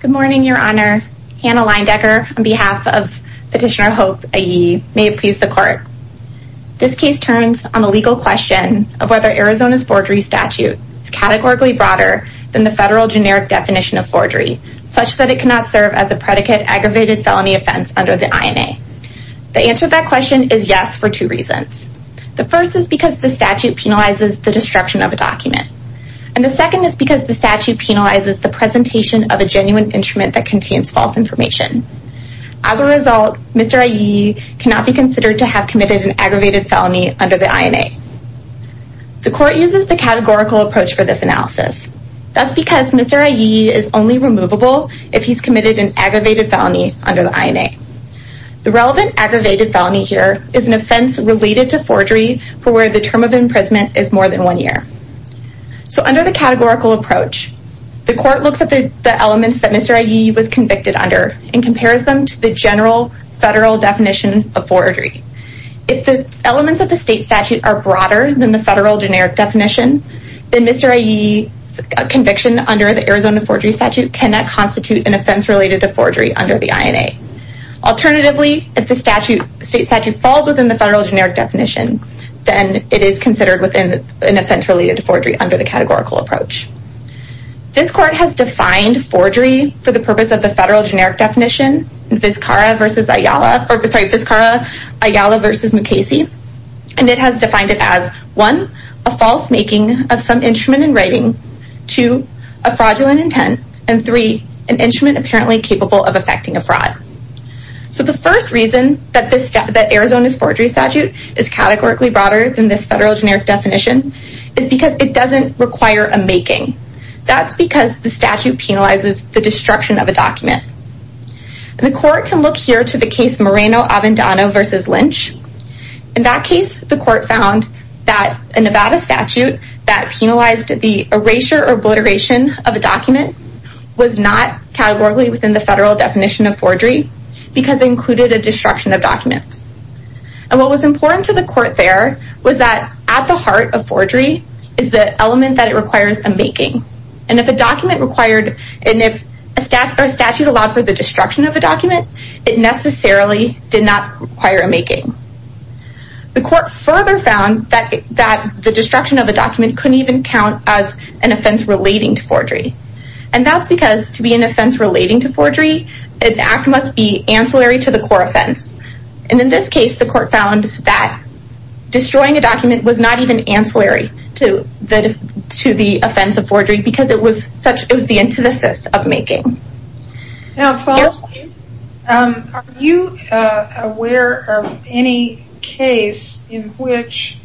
Good morning, Your Honor. Hannah Leindecker on behalf of Petitioner Hope Ayiyi may it please the court. This case turns on the legal question of whether Arizona's forgery statute is categorically broader than the federal generic definition of forgery such that it cannot serve as a predicate aggravated felony offense under the INA. The answer to that question is yes for two reasons. The first is because the statute penalizes the destruction of a document. And the second is because the statute penalizes the presentation of a genuine instrument that contains false information. As a result, Mr. Ayiyi cannot be considered to have committed an aggravated felony under the INA. The court uses the categorical approach for this analysis. That's because Mr. Ayiyi is only removable if he's committed an aggravated felony under the INA. The relevant So under the categorical approach, the court looks at the elements that Mr. Ayiyi was convicted under and compares them to the general federal definition of forgery. If the elements of the state statute are broader than the federal generic definition, then Mr. Ayiyi's conviction under the Arizona forgery statute cannot constitute an offense related to forgery under the INA. Alternatively, if the state statute falls within the federal generic definition, then it is considered within an offense related to forgery under the categorical approach. This court has defined forgery for the purpose of the federal generic definition, Vizcara-Ayala v. Mukasey. And it has defined it as, one, a false making of some instrument in writing, two, a fraudulent intent, and three, an instrument apparently capable of effecting a fraud. So the first reason that Arizona's forgery statute is categorically broader than this federal generic definition is because it doesn't require a making. That's because the statute penalizes the destruction of a document. The court can look here to the case Moreno-Avendano v. Lynch. In that case, the court found that a Nevada statute that penalized the erasure or obliteration of a document was not categorically within the federal definition of forgery because it included a destruction of documents. And what was important to the court there was that at the heart of forgery is the element that it requires a making. And if a document required, and if a statute allowed for the destruction of a document, it necessarily did not require a making. The court further found that the destruction of a document couldn't even count as an offense relating to forgery. And that's because to be an offense relating to forgery, an act must be ancillary to the core offense. And in this case, the court found that destroying a document was not even ancillary to the offense of forgery because it was the antithesis of making. Are you aware of any case in which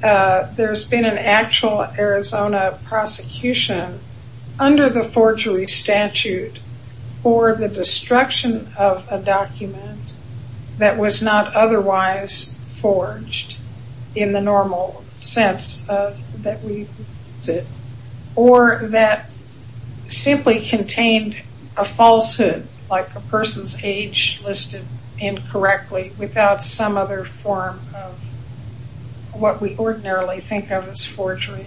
there's been an actual Arizona prosecution under the forgery statute for the destruction of a document that was not otherwise forged in the normal sense that we use it, or that simply contained a falsehood like a person's age listed incorrectly without some other form of what we ordinarily think of as forgery?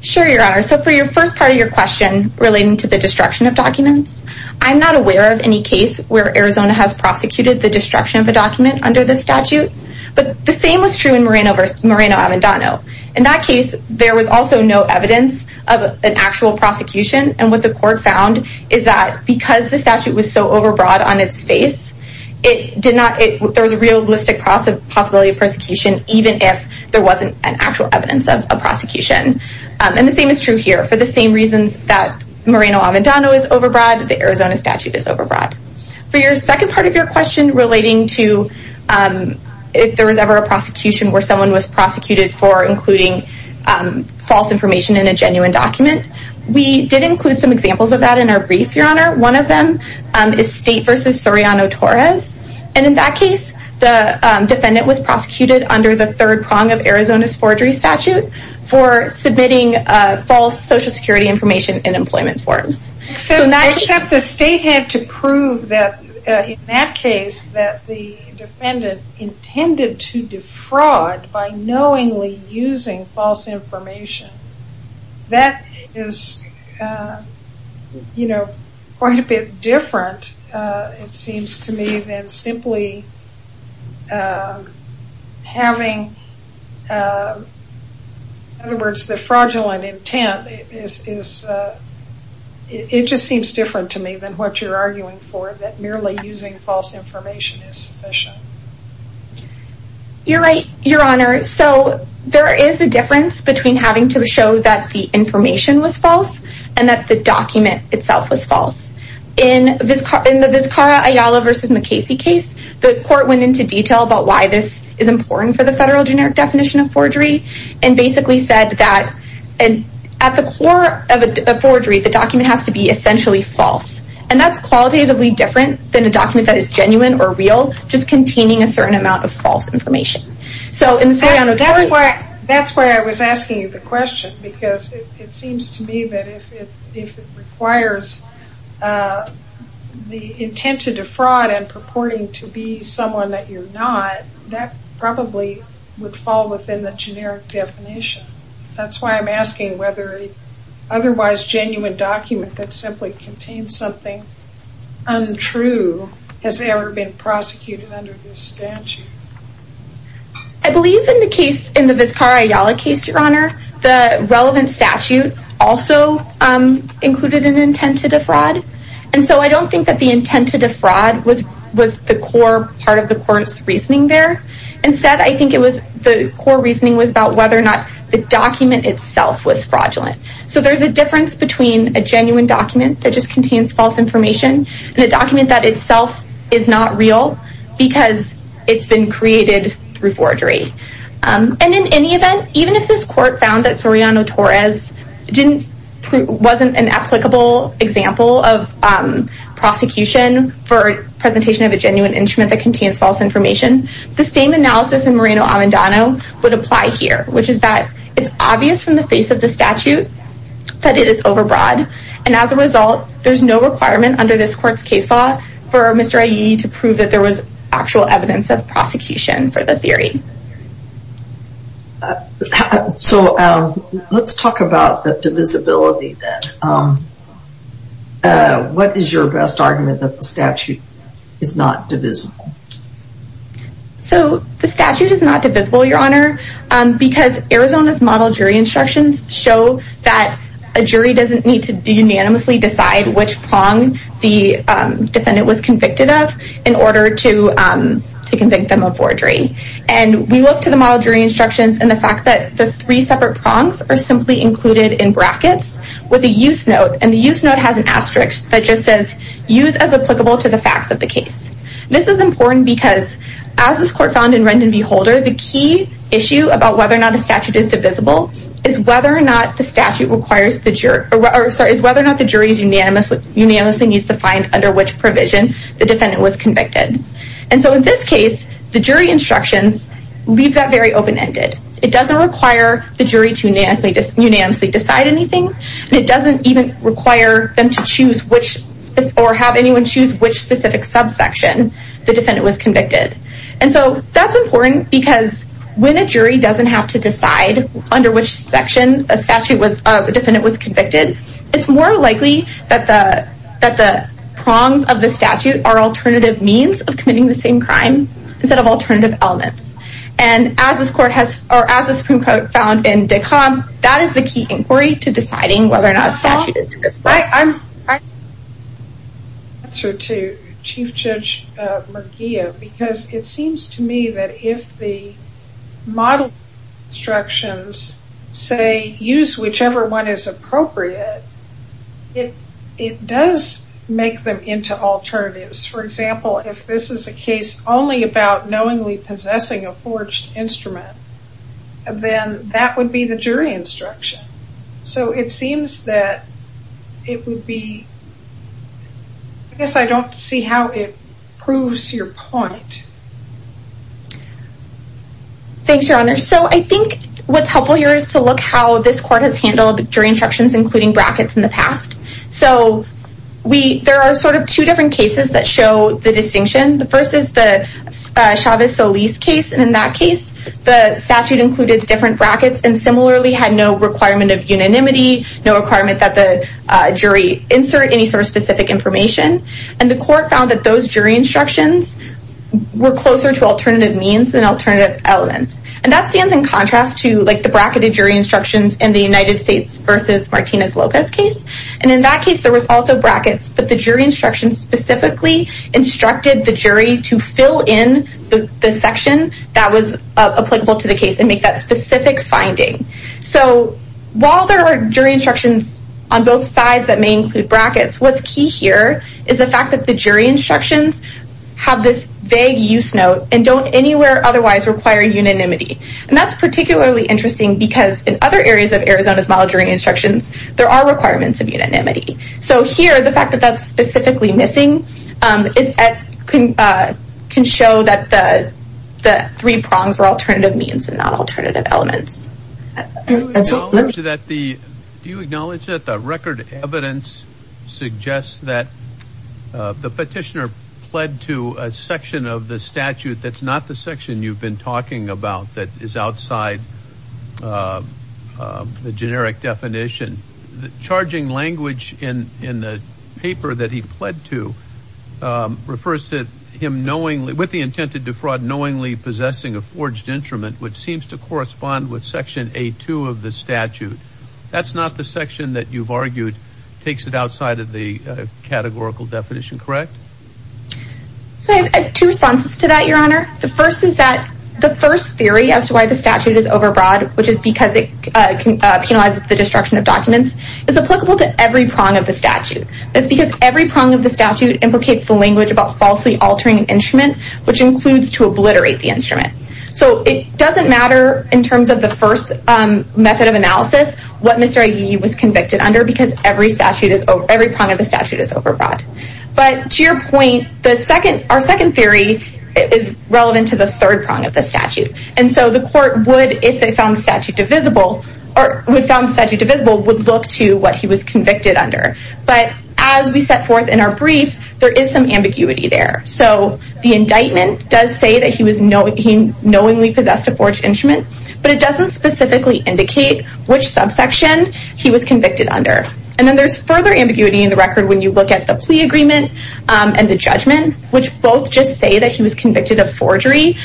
Sure, Your Honor. So for the first part of your question relating to the destruction of documents, I'm not aware of any case where Arizona has prosecuted the destruction of Moreno-Avendano. In that case, there was also no evidence of an actual prosecution. And what the court found is that because the statute was so overbroad on its face, there was a realistic possibility of prosecution even if there wasn't an actual evidence of a prosecution. And the same is true here. For the same reasons that Moreno-Avendano is overbroad, the Arizona statute is overbroad. For your second example, we did not have a statute for a prosecution where someone was prosecuted for including false information in a genuine document. We did include some examples of that in our brief, Your Honor. One of them is State v. Soriano-Torres. And in that case, the defendant was prosecuted under the third prong of Arizona's forgery statute for submitting false Social Security information in employment forms. Except the state had to prove that in that case that the defendant intended to defraud by knowingly using false information. That is quite a bit different, it seems to me, than simply having, in other words, the fraudulent intent. It just seems different to me than what you're arguing for, that merely using false information is sufficient. You're right, Your Honor. So there is a difference between having to show that the information was false and that the document itself was false. In the Vizcarra-Ayala v. McCasey case, the court went into detail about why this is important for the federal generic definition of forgery and basically said that at the core of forgery, the document has to be essentially false. And that's qualitatively different than a document that is genuine or real, just containing a certain amount of false information. That's why I was asking you the question, because it seems to me that if it requires the intent to defraud and purporting to be someone that you're not, that probably would fall within the generic definition. That's why I'm asking whether an otherwise genuine document that simply contains something untrue has ever been prosecuted under this statute. I believe in the Vizcarra-Ayala case, Your Honor, the relevant statute also included an intent to defraud. And so I don't think that the intent to defraud was the core part of the court's reasoning there. Instead, I think the core reasoning was about whether or not the document itself was fraudulent. So there's a difference between a genuine document that just contains false information and a document that itself is not real because it's been created through forgery. And in any event, even if this court found that Soriano-Torres wasn't an applicable example of prosecution for presentation of a genuine instrument that contains false information, the same analysis in Moreno-Amandano would apply here, which is that it's obvious from the face of the statute that it is overbroad. And as a result, there's no requirement under this court's case law for Mr. Ayala to prove that there was actual evidence of prosecution for the theory. So let's talk about the divisibility then. What is your best argument that the statute is not divisible? So the statute is not divisible, Your Honor, because Arizona's model jury instructions show that a jury doesn't need to unanimously decide which prong the defendant was convicted of in order to convict them of forgery. And we look to the model jury instructions and the fact that the three separate prongs are simply included in brackets with a use note. And the use note has an asterisk that just says, use as applicable to the facts of the case. This is important because, as this court found in Rendon v. Holder, the key issue about whether or not the statute is divisible is whether or not the statute requires the jury is whether or not the jury is unanimously needs to find under which provision the defendant was convicted. And so in this case, the jury instructions leave that very open-ended. It doesn't require the jury to unanimously decide anything, and it doesn't even require them to choose which or have anyone choose which specific subsection the defendant was convicted. And so that's important because when a jury doesn't have to decide under which section the defendant was convicted, it's more likely that the prongs of the statute are alternative means of committing the same crime instead of alternative elements. And as this court has or as the Supreme Court found in Dikhan, that is the key inquiry to deciding whether or not a statute is divisible. I'm going to answer to Chief Judge McGeough, because it seems to me that if the model instructions say, use whichever one is appropriate, it does make them into alternatives. For example, if this is a case only about knowingly possessing a forged instrument, then that would be the jury instruction. So it seems that it would be, I guess I don't see how it proves your point. Thanks, Your Honor. So I think what's helpful here is to look how this court has handled jury instructions, including brackets in the past. So there are sort of two different cases that show the distinction. The first is the Chavez-Solis case. And in that case, the statute included different brackets and similarly had no requirement of unanimity, no requirement that the jury insert any sort of specific information. And the court found that those jury instructions were closer to alternative means than alternative elements. And that stands in the Chavez-Solis case. And in that case, there was also brackets, but the jury instructions specifically instructed the jury to fill in the section that was applicable to the case and make that specific finding. So while there are jury instructions on both sides that may include brackets, what's key here is the fact that the jury instructions have this vague use note and don't anywhere otherwise require unanimity. And that's particularly interesting because in other areas of Arizona's model jury instructions, there are requirements of unanimity. So here, the fact that that's specifically missing can show that the three prongs were alternative means and not alternative elements. Do you acknowledge that the record evidence suggests that the petitioner referred to a section of the statute that's not the section you've been talking about that is outside the generic definition? The charging language in the paper that he pled to refers to him knowingly, with the intent to defraud, knowingly possessing a forged instrument, which seems to correspond with section A2 of the statute. That's not the section that you've argued takes it outside of the categorical definition, correct? So I have two responses to that, Your Honor. The first is that the first theory as to why the statute is overbroad, which is because it penalizes the destruction of documents, is applicable to every prong of the statute. That's because every prong of the statute implicates the language about falsely altering an instrument, which includes to obliterate the instrument. So it is not what he was convicted under because every prong of the statute is overbroad. But to your point, our second theory is relevant to the third prong of the statute. And so the court would, if they found the statute divisible, would look to what he was convicted under. But as we set forth in our brief, there is some ambiguity there. So the indictment does say that he knowingly possessed a forged instrument, but it doesn't specifically indicate which subsection he was convicted under. And then there's further ambiguity in the record when you look at the plea agreement and the judgment, which both just say that he was convicted of forgery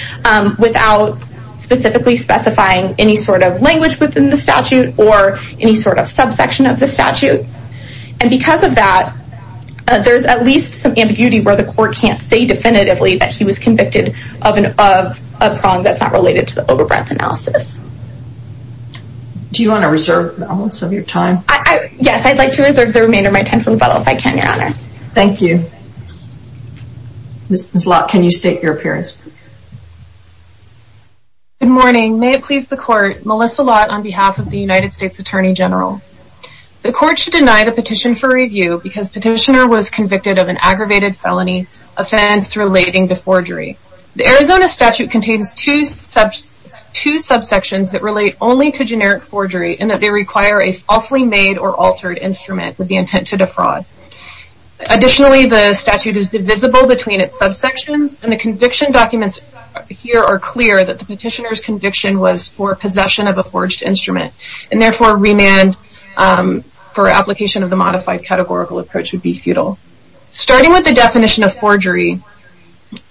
without specifically specifying any sort of language within the statute or any sort of subsection of the statute. And because of that, there's at least some ambiguity where the court can't say definitively that he was convicted of a prong that's not related to the overbreadth analysis. Do you want to reserve most of your time? Yes, I'd like to reserve the remainder of my time for rebuttal if I can, Your Honor. Thank you. Ms. Lott, can you state your appearance, please? Good morning. May it please the court, Melissa Lott on behalf of the United States Attorney General. The court should deny the petition for review because the petitioner was convicted of an aggravated felony offense relating to forgery. The Arizona statute contains two subsections that relate only to generic forgery and that they require a falsely made or altered instrument with the intent to defraud. Additionally, the statute is divisible between its subsections and the conviction documents here are clear that the petitioner's conviction was for possession of a forged instrument and therefore remand for application of the modified categorical approach would be futile. Starting with the definition of forgery.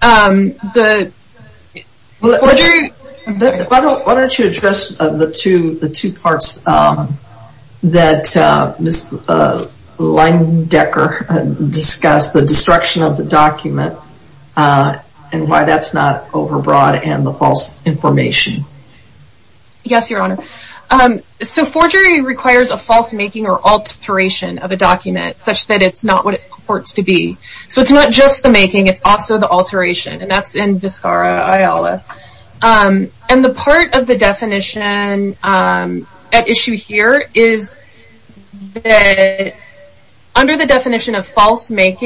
Why don't you address the two parts that Ms. Lindecker discussed, the destruction of the document and why that's not overbroad and the false information? Yes, Your Honor. So forgery requires a false making or alteration of a document such that it's not what it purports to be. So it's not just the making, it's also the alteration and that's in Viscara Iola. And the part of the definition at issue here is that under the definition of falsely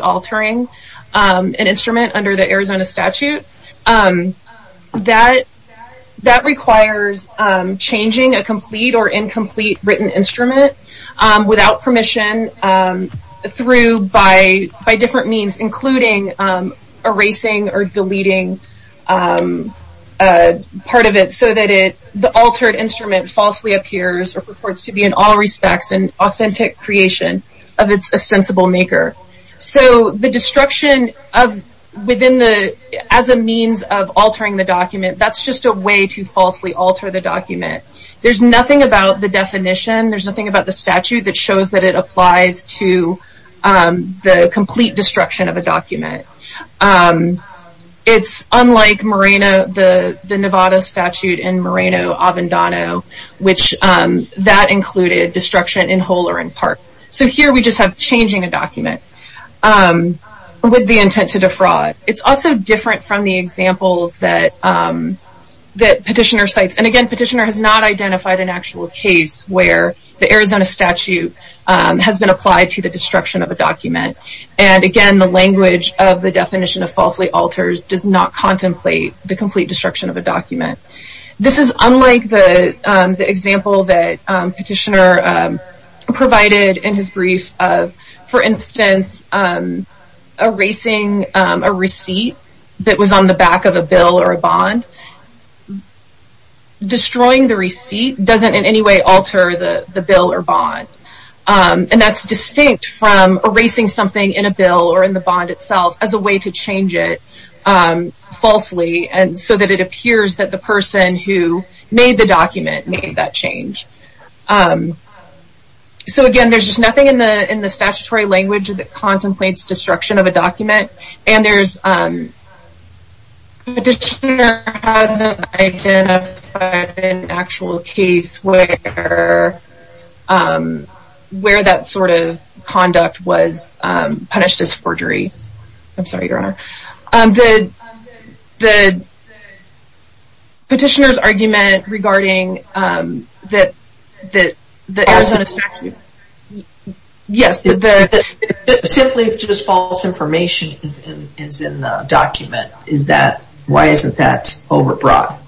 altering an instrument under the Arizona statute that requires changing a complete or incomplete written instrument without permission part of it so that the altered instrument falsely appears or purports to be in all respects an authentic creation of its ostensible maker. So the destruction as a means of altering the document, that's just a way to falsely alter the document. There's nothing about the definition, there's nothing about the statute that shows that it applies to the complete destruction of a document. It's unlike the Nevada statute in Moreno-Avendano that included destruction in whole or in part. So here we just have changing a document with the intent to defraud. It's also different from the examples that Petitioner cites. And again, Petitioner has not identified an actual case where the Arizona statute has been applied to the destruction of a document. And again, the language of the definition of falsely alters does not contemplate the complete destruction of a document. This is unlike the example that Petitioner provided in his brief of, for instance, erasing a receipt that was on the back of a bill or a bond. Destroying the receipt doesn't in any way alter the bill or bond. And that's distinct from erasing something in a bill or in the bond itself as a way to change it falsely so that it appears that the person who made the document made that change. So again, there's just nothing in the statutory language that Petitioner hasn't identified an actual case where that sort of conduct was punished as forgery. I'm sorry, Your Honor. The Petitioner's argument regarding the Arizona statute... If simply just false information is in the document, why isn't that over-broad?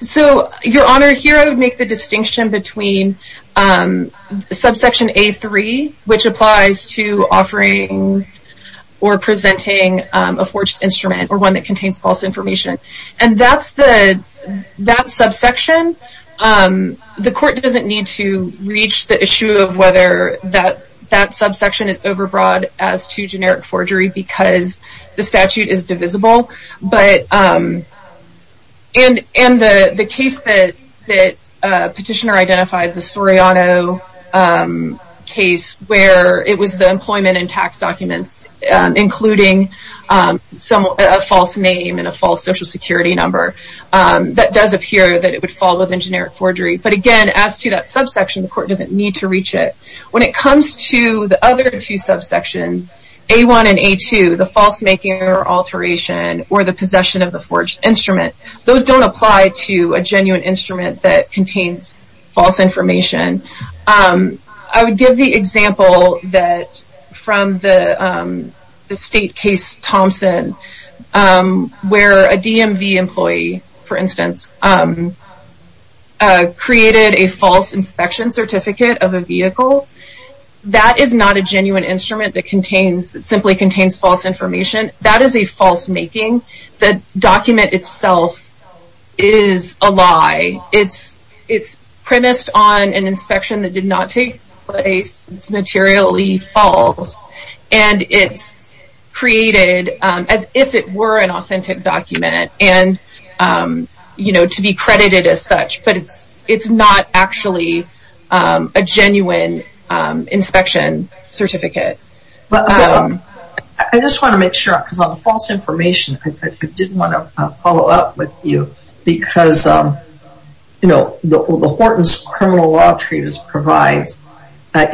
So, Your Honor, here I would make the distinction between subsection A3, which applies to offering or presenting a forged instrument or one that contains false information. And that subsection, the court doesn't need to reach the issue of whether that subsection is over-broad as to generic forgery because the statute is divisible. And the case that Petitioner identifies, the Soriano case, where it was the employment and tax documents, including a false name and a false social security number, that does appear that it would fall within generic forgery. But again, as to that subsection, the court doesn't need to reach it. When it comes to the other two subsections, A1 and A2, the false making or alteration or the possession of the forged instrument, those don't apply to a genuine instrument that contains false information. I would give the example that from the state case Thompson, where a DMV employee, for instance, created a false inspection certificate of a vehicle. That is not a genuine instrument that simply contains false information. That is a false making. The document itself is a lie. It's premised on an inspection that did not take place. It's materially false. And it's created as if it were an authentic document to be credited as such. But it's not actually a genuine inspection certificate. I just want to make sure, because on the false information, I did provide, you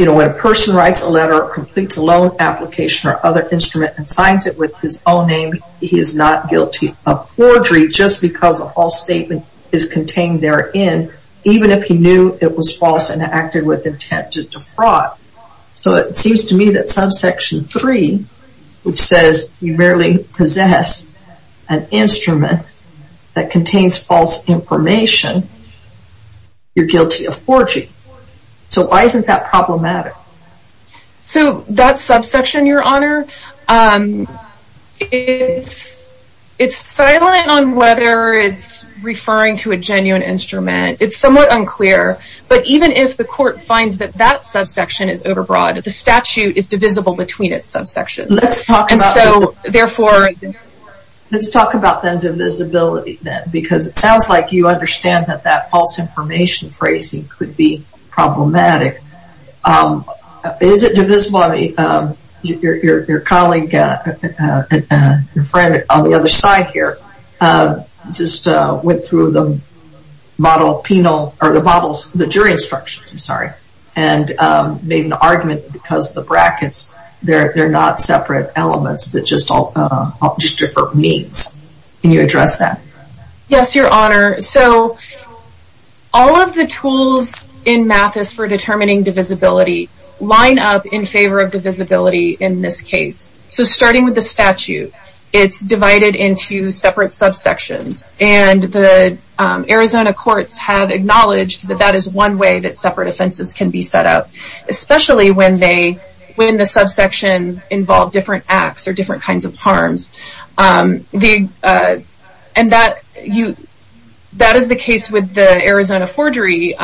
know, when a person writes a letter or completes a loan application or other instrument and signs it with his own name, he is not guilty of forgery just because a false statement is contained therein, even if he knew it was false and acted with intent to defraud. So it seems to me that subsection 3, which says you merely possess an information, you're guilty of forgery. So why isn't that problematic? So that subsection, Your Honor, it's silent on whether it's referring to a genuine instrument. It's somewhat unclear. But even if the court finds that that subsection is overbroad, the statute is divisible between its subsections. Let's talk about the divisibility then, because it sounds like you understand that that false information phrasing could be problematic. Is it divisible? I mean, your colleague, your friend on the other side here, just went through the model penal, or the models, the jury instructions, I'm sorry, and made an argument because the brackets, they're not separate elements, they're just different means. Can you address that? Yes, Your Honor. So all of the tools in Mathis for determining divisibility line up in favor of divisibility in this case. So starting with the statute, it's divided into separate subsections and the Arizona courts have acknowledged that that is one way that separate offenses can be set up, especially when the subsections involve different acts or different kinds of harms. That is the case with the Arizona forgery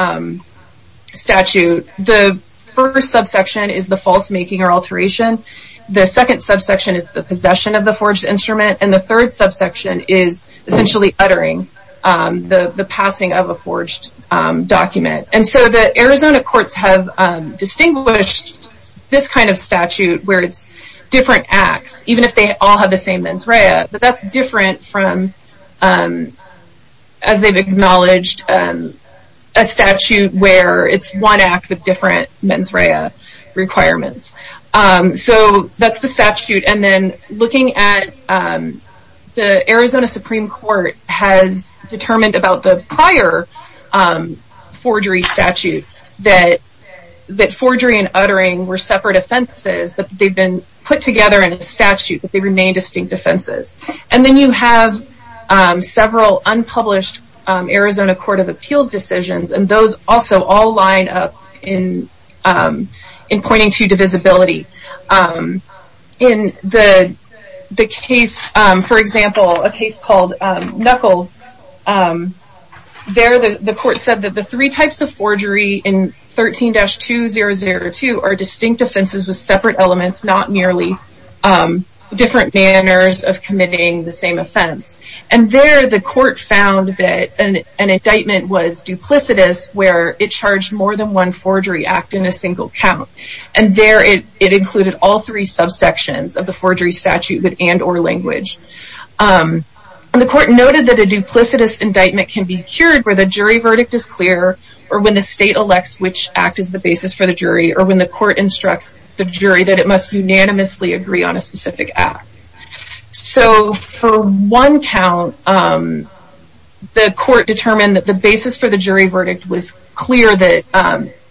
statute. The first subsection is the false making or alteration. The second subsection is the possession of the forged instrument, and the third subsection is essentially uttering the passing of a forged document. And so the Arizona courts have distinguished this kind of statute where it's different acts, even if they all have the same mens rea, but that's different from as they've acknowledged, a statute where it's one act with different mens rea requirements. So that's the statute, and then looking at the Arizona Supreme Court has determined about the prior forgery statute that forgery and uttering were separate offenses, but they've been put together in a statute, but they remain distinct offenses. And then you have several unpublished Arizona Court of Appeals decisions, and those also all line up in pointing to divisibility. In the case, for example, a case called Knuckles, there the court said that the three types of forgery in 13-2002 are distinct offenses with separate elements, not different manners of committing the same offense. And there the court found that an indictment was duplicitous where it charged more than one forgery act in a single count. And there it included all three subsections of the forgery statute with and or language. The court noted that a duplicitous indictment can be cured where the jury verdict is clear, or when the state elects which act is the basis for the jury, or when the court instructs the jury that it must unanimously agree on a specific act. So for one count, the court determined that the basis for the jury verdict was clear that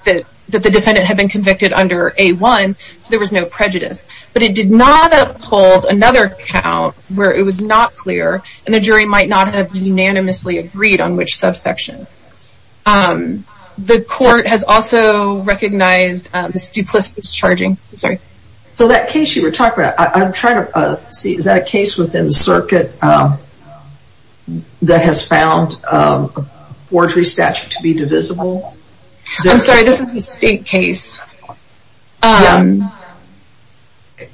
the defendant had been convicted under A-1, so there was no prejudice. But it did not uphold another count where it was not clear, and the jury might not have unanimously agreed on which subsection. The court has also recognized this duplicitous charging. Is that a case within the circuit that has found a forgery statute to be divisible? I'm sorry, this is a state case.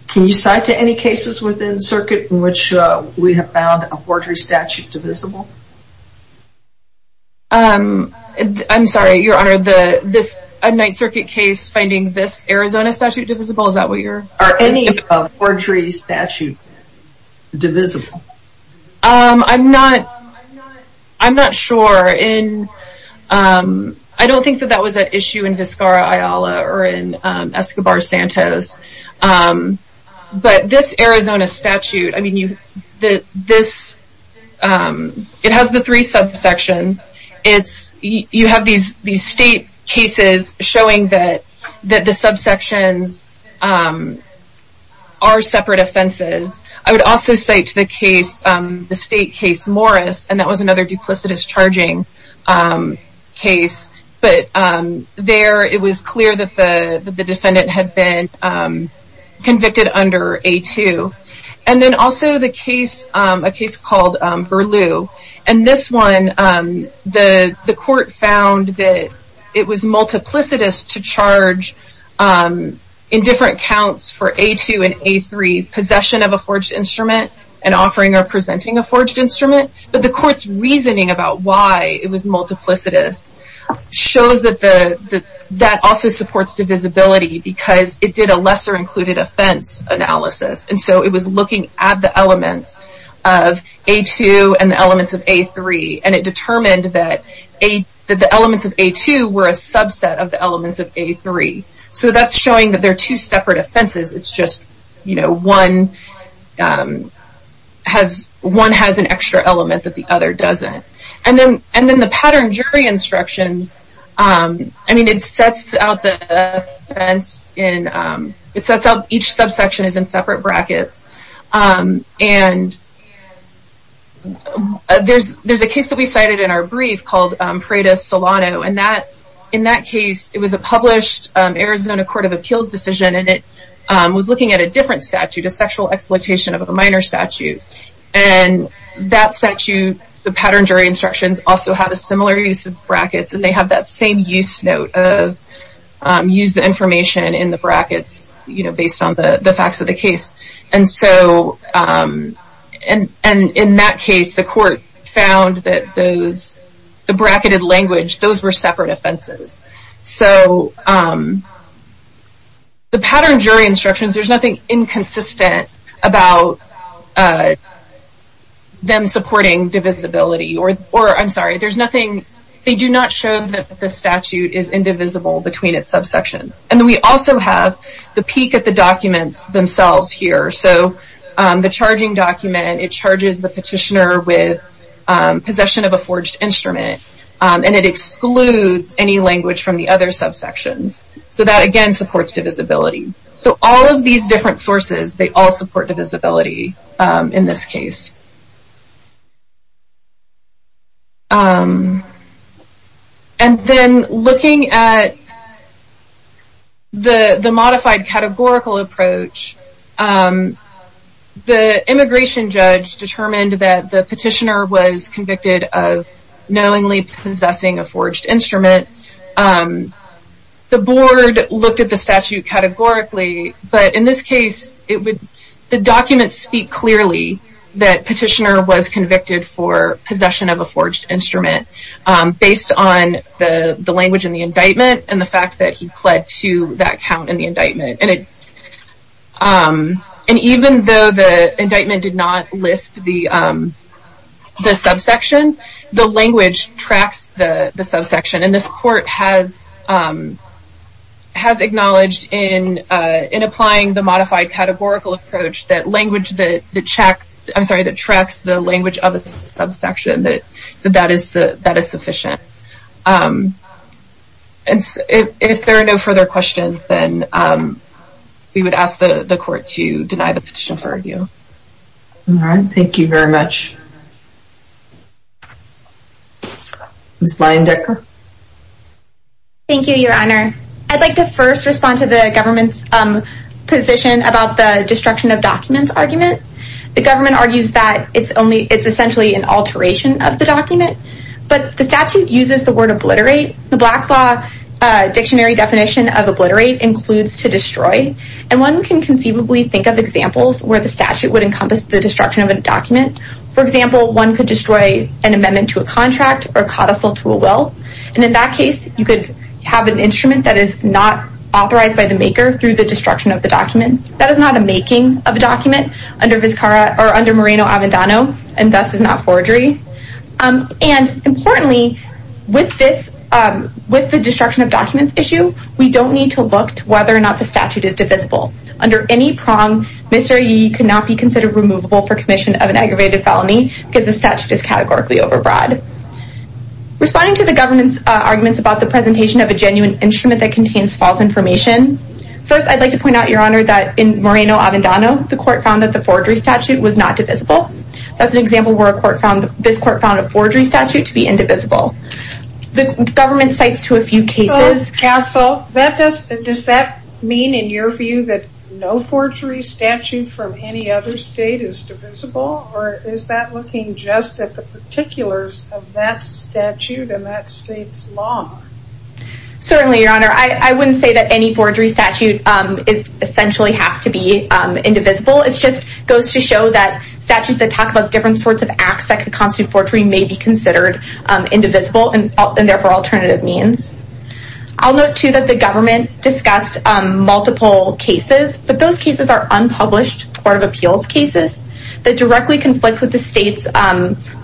Can you cite to any cases within the circuit in which we have found a forgery statute divisible? I'm sorry, your honor, this night circuit case finding this Arizona statute divisible, is that what you're asking? Are any forgery statutes divisible? I'm not sure. I don't think that was an issue in Vizcarra-Ayala or in Escobar-Santos. But this Arizona statute, it has the three subsections. You have these state cases showing that the subsections are separate offenses. I would also cite the state case Morris, and that was another duplicitous charging case. But there it was clear that the defendant had been convicted under A2. And then also a case called Berlue. And this one, the court found that it was multiplicitous to charge in different counts for A2 and A3, possession of a forged instrument. But the court's reasoning about why it was multiplicitous shows that that also supports divisibility because it did a lesser included offense analysis. And so it was looking at the elements of A2 and the elements of A3. And it determined that the elements of A2 were a subset of the elements of A3. So that's showing that they're two separate offenses. It's just one has an extra element that the other doesn't. And then the pattern jury instructions, I mean it sets out the offense in, it sets out each subsection is in separate brackets. There's a case that we cited in our brief called Preda-Solano. And in that case it was a published Arizona Court of Appeals decision. And it was looking at a different statute, a sexual exploitation of a minor statute. And that statute, the pattern jury instructions also have a similar use of brackets. And they have that same use note of use the information in the brackets based on the facts of the case. And so and in that case the court found that those the bracketed language, those were separate offenses. The pattern jury instructions, there's nothing inconsistent about them supporting divisibility or I'm sorry there's nothing, they do not show that the statute is indivisible between its subsection. And we also have the peek at the documents themselves here. So the charging document, it charges the petitioner with possession of a forged instrument. And it excludes any language from the other subsections. So that again supports divisibility. So all of these different sources, they all support divisibility in this case. And then looking at the modified categorical approach, the immigration judge determined that the petitioner was convicted of knowingly possessing a forged instrument. The board looked at the statute categorically but in this case, the documents speak clearly that petitioner was convicted for possession of a forged instrument based on the language in the indictment and the fact that he pled to that count in the indictment. And even though the indictment did not list the subsection, the language tracks the subsection. And this court has acknowledged in applying the modified categorical approach that language that tracks the language of the subsection, that that is sufficient. If there are no further questions, then we would ask the court to deny the petition for review. All right. Thank you very much. Ms. Leyendecker. Thank you, Your Honor. I'd like to first respond to the government's position about the destruction of documents argument. The government argues that it's essentially an alteration of the document. But the statute uses the word obliterate. The Black's Law dictionary definition of obliterate includes to destroy. And one can conceivably think of examples where the statute would encompass the destruction of a document. For example, one could destroy an amendment to a contract or a codicil to a will. And in that case, you could have an instrument that is not authorized by the maker through the destruction of the document. That is not a making of a document under Moreno-Avendano and thus is not forgery. And importantly, with this, with the destruction of documents issue, we don't need to look to whether or not the statute is divisible. Under any prong, Mr. Yee could not be considered removable for commission of an aggravated felony because the statute is categorically overbroad. Responding to the government's arguments about the presentation of a genuine instrument that contains false information. First, I'd like to point out, Your Honor, that in Moreno-Avendano, the court found that the forgery statute was not divisible. That's an example where this court found a forgery statute to be indivisible. The government cites to a few cases... Counsel, does that mean in your view that no forgery statute from any other state is divisible? Or is that looking just at the particulars of that statute and that state's law? Certainly, Your Honor. I wouldn't say that any forgery statute essentially has to be indivisible. It just goes to show that statutes that talk about different sorts of acts that could constitute forgery may be considered indivisible and therefore alternative means. I'll note, too, that the government discussed multiple cases, but those cases are unpublished Court of Appeals cases that directly conflict with the state's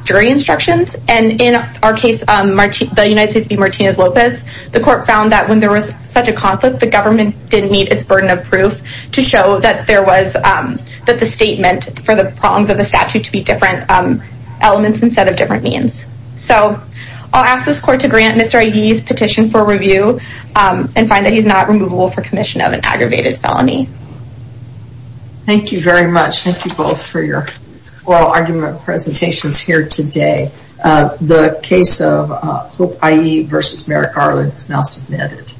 jury instructions. And in our case, the United States v. Martinez-Lopez, the court found that when there was such a conflict, the government didn't meet its burden of proof to show that there was that the state meant for the prongs of the statute to be different elements instead of different means. So, I'll ask this court to grant Mr. Aguirre's petition for review and find that he's not removable for commission of an aggravated felony. Thank you very much. Thank you both for your oral argument presentations here today. The case of Hope I.E. v. Merrick Arlen is now submitted.